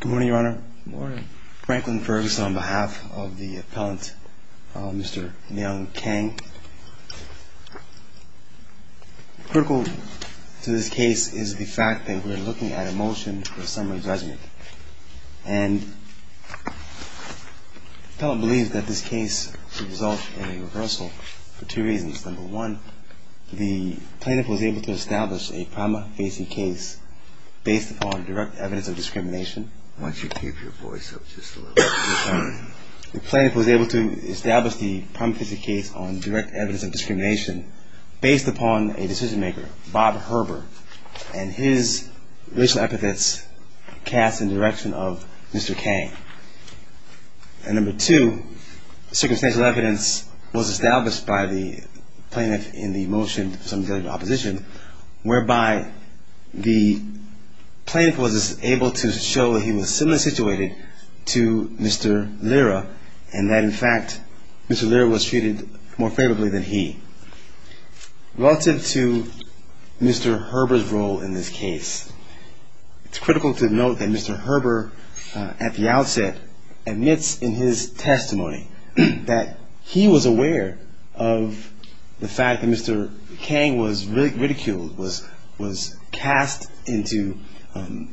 Good morning, Your Honor. Franklin Ferguson on behalf of the appellant, Mr. Myung Kang. Critical to this case is the fact that we're looking at a motion for summary judgment. And the appellant believes that this case should result in a reversal for two reasons. First, number one, the plaintiff was able to establish a prima facie case based upon direct evidence of discrimination. Why don't you keep your voice up just a little bit? The plaintiff was able to establish the prima facie case on direct evidence of discrimination based upon a decision maker, Bob Herber, and his racial epithets cast in the direction of Mr. Kang. And number two, circumstantial evidence was established by the plaintiff in the motion of summary judgment opposition, whereby the plaintiff was able to show that he was similarly situated to Mr. Lira, and that, in fact, Mr. Lira was treated more favorably than he. Relative to Mr. Herber's role in this case, it's critical to note that Mr. Herber, at the outset, admits in his testimony that he was aware of the fact that Mr. Kang was ridiculed, was cast into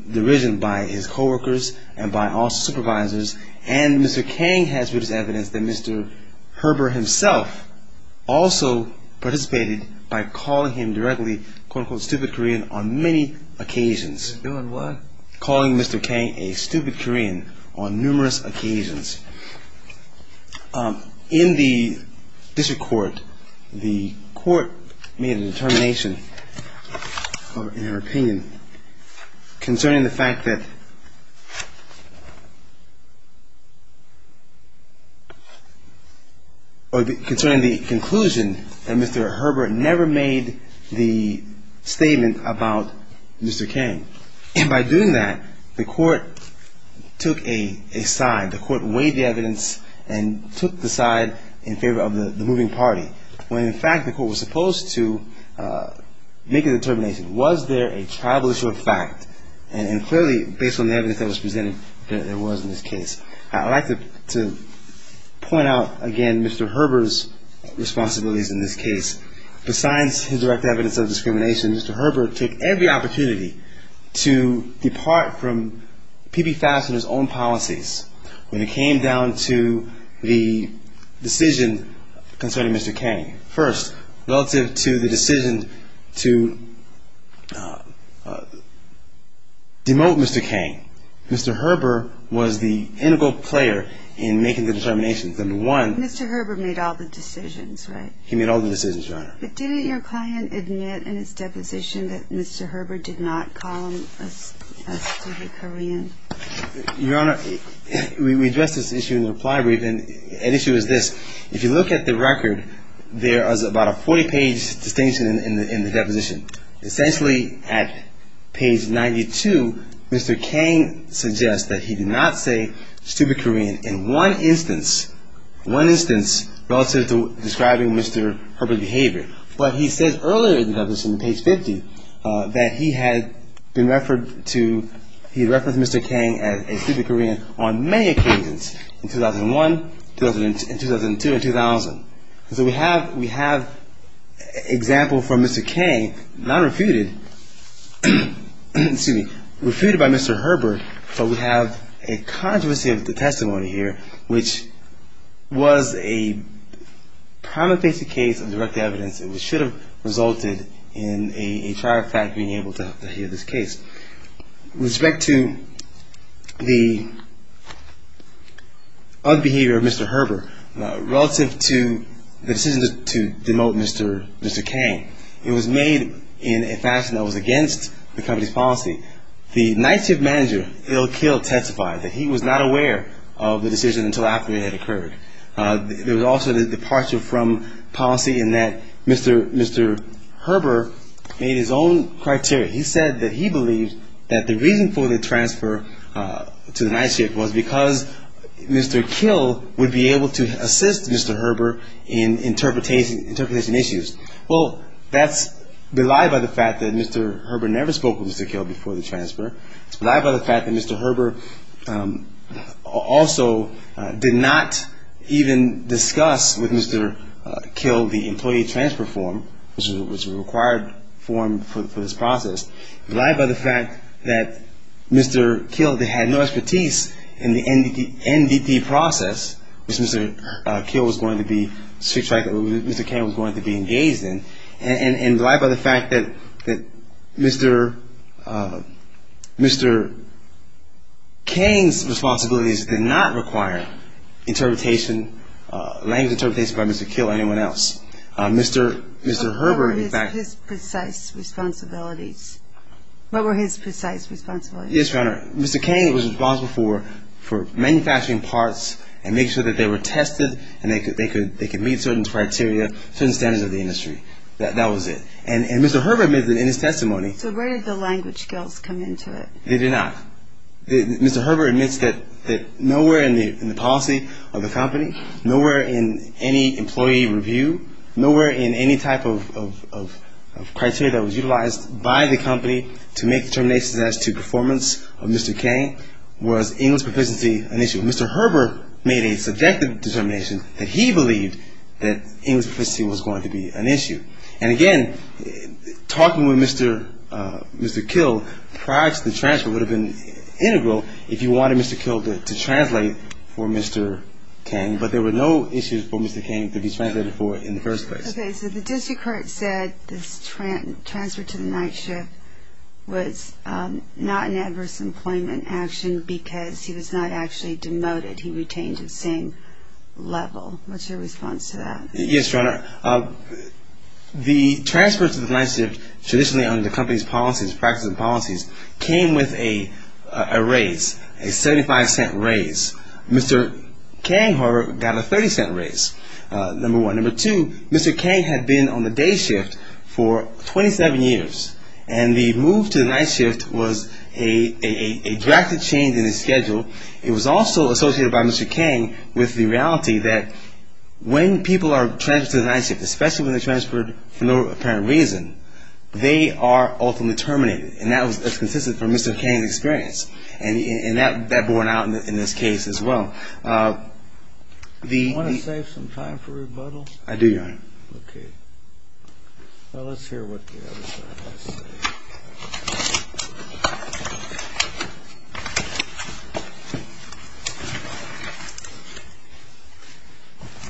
derision by his coworkers and by all supervisors, and Mr. Kang has witnessed evidence that Mr. Herber himself also participated by calling him directly, quote-unquote, stupid Korean on many occasions. Calling what? Calling Mr. Kang a stupid Korean on numerous occasions. In the district court, the court made a determination in their opinion concerning the fact that, or concerning the conclusion that Mr. Herber never made the statement about Mr. Kang. And by doing that, the court took a side. The court weighed the evidence and took the side in favor of the moving party, when, in fact, the court was supposed to make a determination. Was there a tribal issue of fact? And clearly, based on the evidence that was presented, there was in this case. I'd like to point out again Mr. Herber's responsibilities in this case. Besides his direct evidence of discrimination, Mr. Herber took every opportunity to depart from P.B. Fashioner's own policies when it came down to the decision concerning Mr. Kang. First, relative to the decision to demote Mr. Kang, Mr. Herber was the integral player in making the determination. Mr. Herber made all the decisions, right? He made all the decisions, Your Honor. But didn't your client admit in his deposition that Mr. Herber did not call him a stupid Korean? Your Honor, we addressed this issue in the reply brief, and the issue is this. If you look at the record, there is about a 40-page distinction in the deposition. Essentially, at page 92, Mr. Kang suggests that he did not say stupid Korean in one instance, one instance relative to describing Mr. Herber's behavior. But he said earlier in the deposition, page 50, that he had been referred to, he referenced Mr. Kang as a stupid Korean on many occasions in 2001, 2002, and 2000. So we have an example from Mr. Kang, not refuted, excuse me, refuted by Mr. Herber, but we have a controversy of the testimony here, which was a prima facie case of direct evidence and should have resulted in a trial fact being able to hear this case. With respect to the unbehavior of Mr. Herber relative to the decision to demote Mr. Kang, it was made in a fashion that was against the company's policy. The night shift manager, Ill Kill, testified that he was not aware of the decision until after it had occurred. There was also the departure from policy in that Mr. Herber made his own criteria. He said that he believed that the reason for the transfer to the night shift was because Mr. Kill would be able to assist Mr. Herber in interpretation issues. Well, that's belied by the fact that Mr. Herber never spoke with Mr. Kill before the transfer. It's belied by the fact that Mr. Herber also did not even discuss with Mr. Kill the employee transfer form, which was a required form for this process. Belied by the fact that Mr. Kill had no expertise in the NDT process, which Mr. Kill was going to be engaged in, and belied by the fact that Mr. Kang's responsibilities did not require language interpretation by Mr. Kill or anyone else. What were his precise responsibilities? Yes, Your Honor, Mr. Kang was responsible for manufacturing parts and making sure that they were tested and they could meet certain criteria, certain standards of the industry. That was it. And Mr. Herber admitted in his testimony. So where did the language skills come into it? They did not. Mr. Herber admits that nowhere in the policy of the company, nowhere in any employee review, nowhere in any type of criteria that was utilized by the company to make determinations as to performance of Mr. Kang, was English proficiency an issue. Mr. Herber made a subjective determination that he believed that English proficiency was going to be an issue. And again, talking with Mr. Kill prior to the transfer would have been integral if you wanted Mr. Kill to translate for Mr. Kang, but there were no issues for Mr. Kang to be translated for in the first place. Okay. So the district court said this transfer to the night shift was not an adverse employment action because he was not actually demoted. He retained his same level. What's your response to that? Yes, Your Honor. The transfer to the night shift traditionally under the company's policies, practices and policies, came with a raise, a 75-cent raise. Mr. Kang, however, got a 30-cent raise, number one. Number two, Mr. Kang had been on the day shift for 27 years, and the move to the night shift was a drastic change in his schedule. It was also associated by Mr. Kang with the reality that when people are transferred to the night shift, especially when they're transferred for no apparent reason, they are ultimately terminated. And that was consistent from Mr. Kang's experience, and that borne out in this case as well. Do you want to save some time for rebuttal? I do, Your Honor. Okay. Well, let's hear what the other side has to say.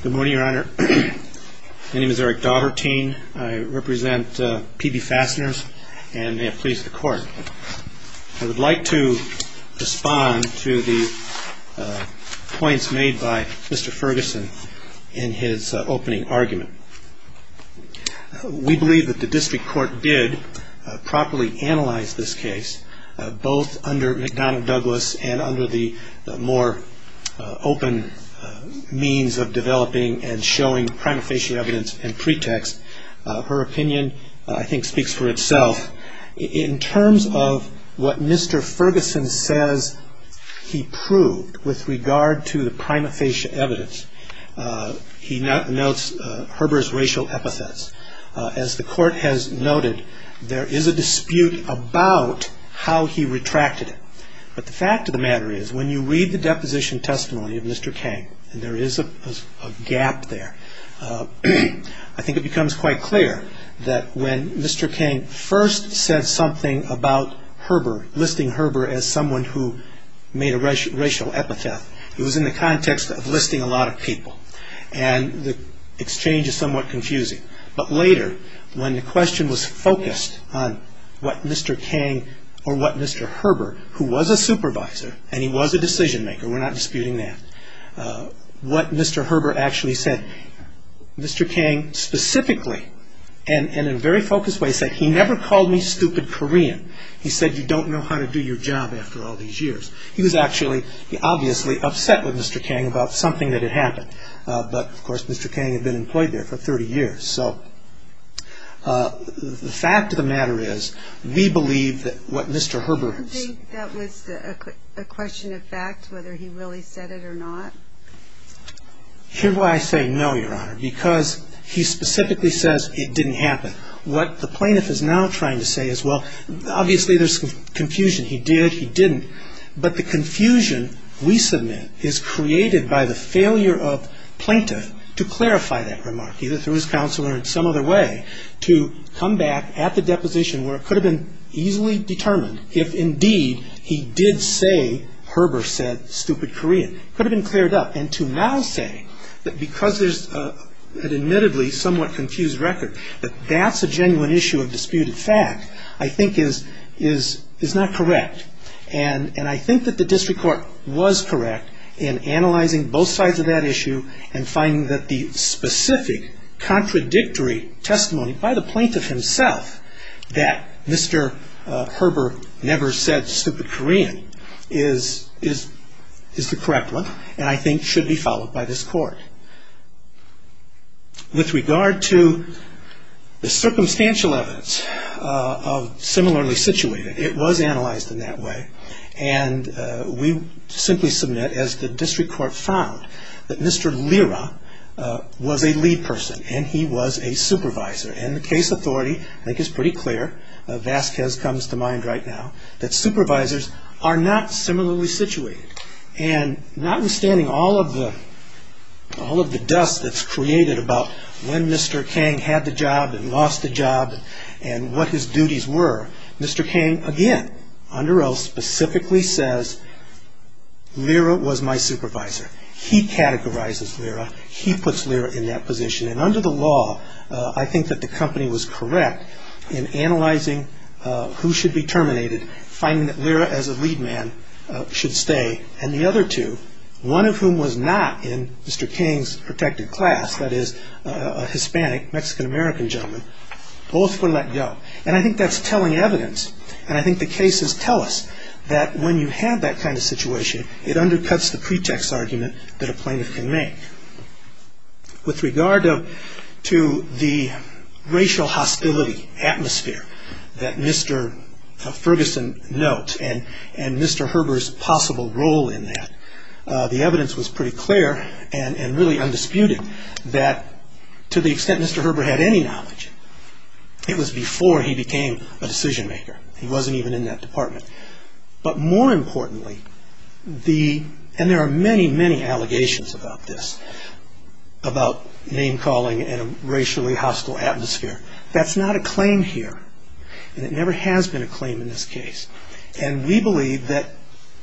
Good morning, Your Honor. My name is Eric Daugherty. I represent PB Fasteners, and may it please the Court, I would like to respond to the points made by Mr. Ferguson in his opening argument. We believe that the district court did properly analyze this case, both under McDonough Douglas and under the more open means of developing and showing prima facie evidence and pretext. Her opinion, I think, speaks for itself. In terms of what Mr. Ferguson says he proved with regard to the prima facie evidence, he notes Herber's racial epithets. As the Court has noted, there is a dispute about how he retracted it. But the fact of the matter is, when you read the deposition testimony of Mr. Kang, and there is a gap there, I think it becomes quite clear that when Mr. Kang first said something about Herber, as someone who made a racial epithet, it was in the context of listing a lot of people. And the exchange is somewhat confusing. But later, when the question was focused on what Mr. Kang or what Mr. Herber, who was a supervisor and he was a decision maker, we're not disputing that, what Mr. Herber actually said, Mr. Kang specifically, and in a very focused way, said, he never called me stupid Korean. He said, you don't know how to do your job after all these years. He was actually, obviously, upset with Mr. Kang about something that had happened. But, of course, Mr. Kang had been employed there for 30 years. So the fact of the matter is, we believe that what Mr. Herber... Do you think that was a question of fact, whether he really said it or not? Here's why I say no, Your Honor, because he specifically says it didn't happen. What the plaintiff is now trying to say is, well, obviously, there's confusion. He did, he didn't. But the confusion we submit is created by the failure of plaintiff to clarify that remark, either through his counselor or in some other way, to come back at the deposition where it could have been easily determined if, indeed, he did say Herber said stupid Korean. It could have been cleared up. And to now say that because there's an admittedly somewhat confused record, that that's a genuine issue of disputed fact, I think is not correct. And I think that the district court was correct in analyzing both sides of that issue and finding that the specific contradictory testimony by the plaintiff himself that Mr. Herber never said stupid Korean is the correct one. And I think should be followed by this court. With regard to the circumstantial evidence of similarly situated, it was analyzed in that way. And we simply submit, as the district court found, that Mr. Lira was a lead person and he was a supervisor. And the case authority, I think, is pretty clear, Vasquez comes to mind right now, that supervisors are not similarly situated. And notwithstanding all of the dust that's created about when Mr. Kang had the job and lost the job and what his duties were, Mr. Kang again, under oath, specifically says Lira was my supervisor. He categorizes Lira. He puts Lira in that position. And under the law, I think that the company was correct in analyzing who should be terminated finding that Lira, as a lead man, should stay. And the other two, one of whom was not in Mr. Kang's protected class, that is a Hispanic, Mexican-American gentleman, both were let go. And I think that's telling evidence. And I think the cases tell us that when you have that kind of situation, it undercuts the pretext argument that a plaintiff can make. With regard to the racial hostility atmosphere that Mr. Ferguson notes and Mr. Herber's possible role in that, the evidence was pretty clear and really undisputed that to the extent Mr. Herber had any knowledge, it was before he became a decision maker. He wasn't even in that department. But more importantly, and there are many, many allegations about this, about name-calling and a racially hostile atmosphere. That's not a claim here. And it never has been a claim in this case. And we believe that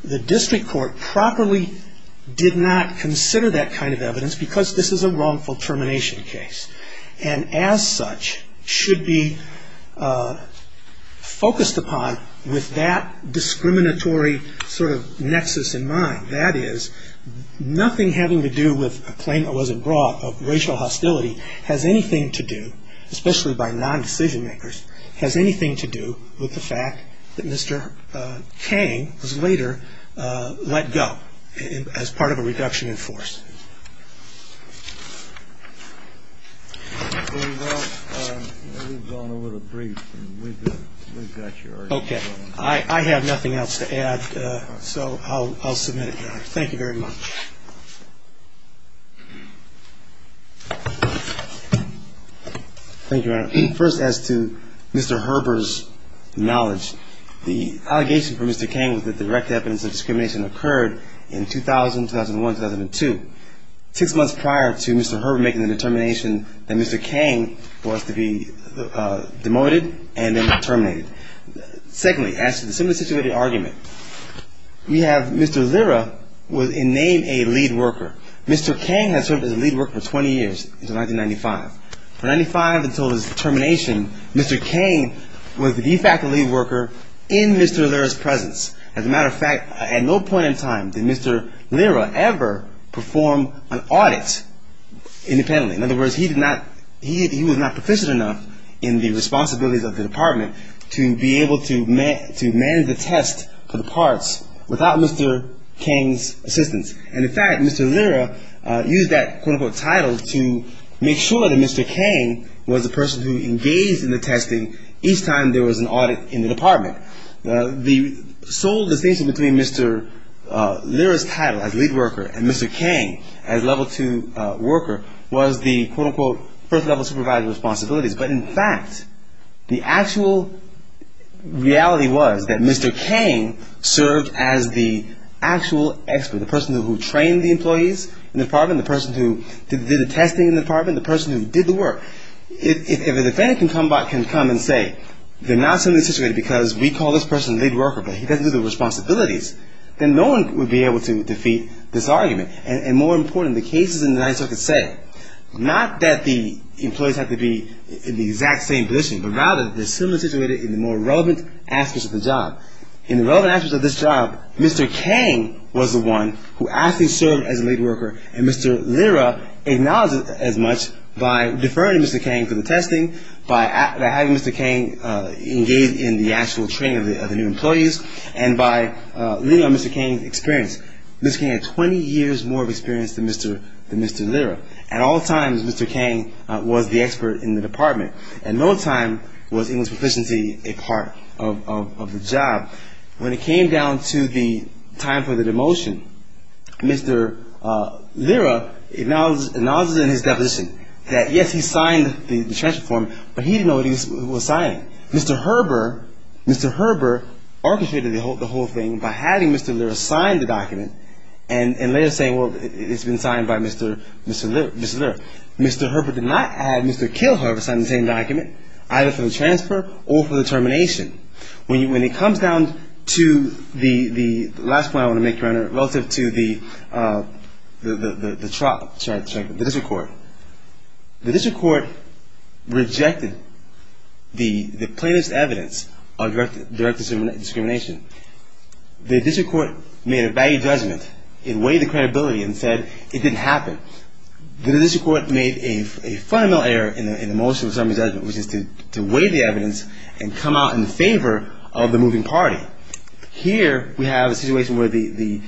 the district court properly did not consider that kind of evidence because this is a wrongful termination case. And as such, should be focused upon with that discriminatory sort of nexus in mind. That is, nothing having to do with a claim that wasn't brought of racial hostility has anything to do, especially by non-decision makers, has anything to do with the fact that Mr. Kang was later let go as part of a reduction in force. We've gone over the brief. We've got yours. Okay. I have nothing else to add. So I'll submit it. Thank you very much. Thank you, Your Honor. First, as to Mr. Herber's knowledge, the allegation from Mr. Kang was that direct evidence of discrimination occurred in 2000, 2001, 2002. Six months prior to Mr. Herber making the determination that Mr. Kang was to be demoted and then terminated. Secondly, as to the similar situated argument, we have Mr. Lira was in name a lead worker. Mr. Kang had served as a lead worker for 20 years until 1995. From 1995 until his termination, Mr. Kang was the de facto lead worker in Mr. Lira's presence. As a matter of fact, at no point in time did Mr. Lira ever perform an audit independently. In other words, he was not proficient enough in the responsibilities of the department to be able to manage the test for the parts without Mr. Kang's assistance. And in fact, Mr. Lira used that quote-unquote title to make sure that Mr. Kang was the person who engaged in the testing The sole distinction between Mr. Lira's title as lead worker and Mr. Kang as level two worker was the quote-unquote first level supervisor responsibilities. But in fact, the actual reality was that Mr. Kang served as the actual expert, the person who trained the employees in the department, the person who did the testing in the department, the person who did the work. If a defendant can come and say they're not similarly situated because we call this person lead worker but he doesn't do the responsibilities, then no one would be able to defeat this argument. And more important, the cases in the United States say not that the employees have to be in the exact same position, but rather they're similarly situated in the more relevant aspects of the job. In the relevant aspects of this job, Mr. Kang was the one who actually served as a lead worker and Mr. Lira acknowledged it as much by deferring Mr. Kang to the testing, by having Mr. Kang engage in the actual training of the new employees, and by leaning on Mr. Kang's experience. Mr. Kang had 20 years more experience than Mr. Lira. At all times, Mr. Kang was the expert in the department. At no time was English proficiency a part of the job. When it came down to the time for the demotion, Mr. Lira acknowledges in his deposition that yes, he signed the transfer form, but he didn't know what he was signing. Mr. Herber, Mr. Herber orchestrated the whole thing by having Mr. Lira sign the document and later saying, well, it's been signed by Mr. Lira. Mr. Herber did not have Mr. Kilher sign the same document either for the transfer or for the termination. When it comes down to the last point I want to make, relative to the district court, the district court rejected the plaintiff's evidence of direct discrimination. The district court made a value judgment. It weighed the credibility and said it didn't happen. The district court made a fundamental error in the motion of the summary judgment, which is to weigh the evidence and come out in favor of the moving party. Here, we have a situation where the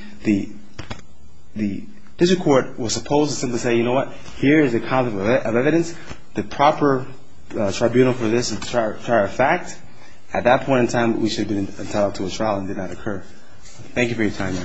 district court was supposed to simply say, you know what, here is a copy of evidence, the proper tribunal for this prior fact. At that point in time, we should have been entitled to a trial and it did not occur. Thank you for your time.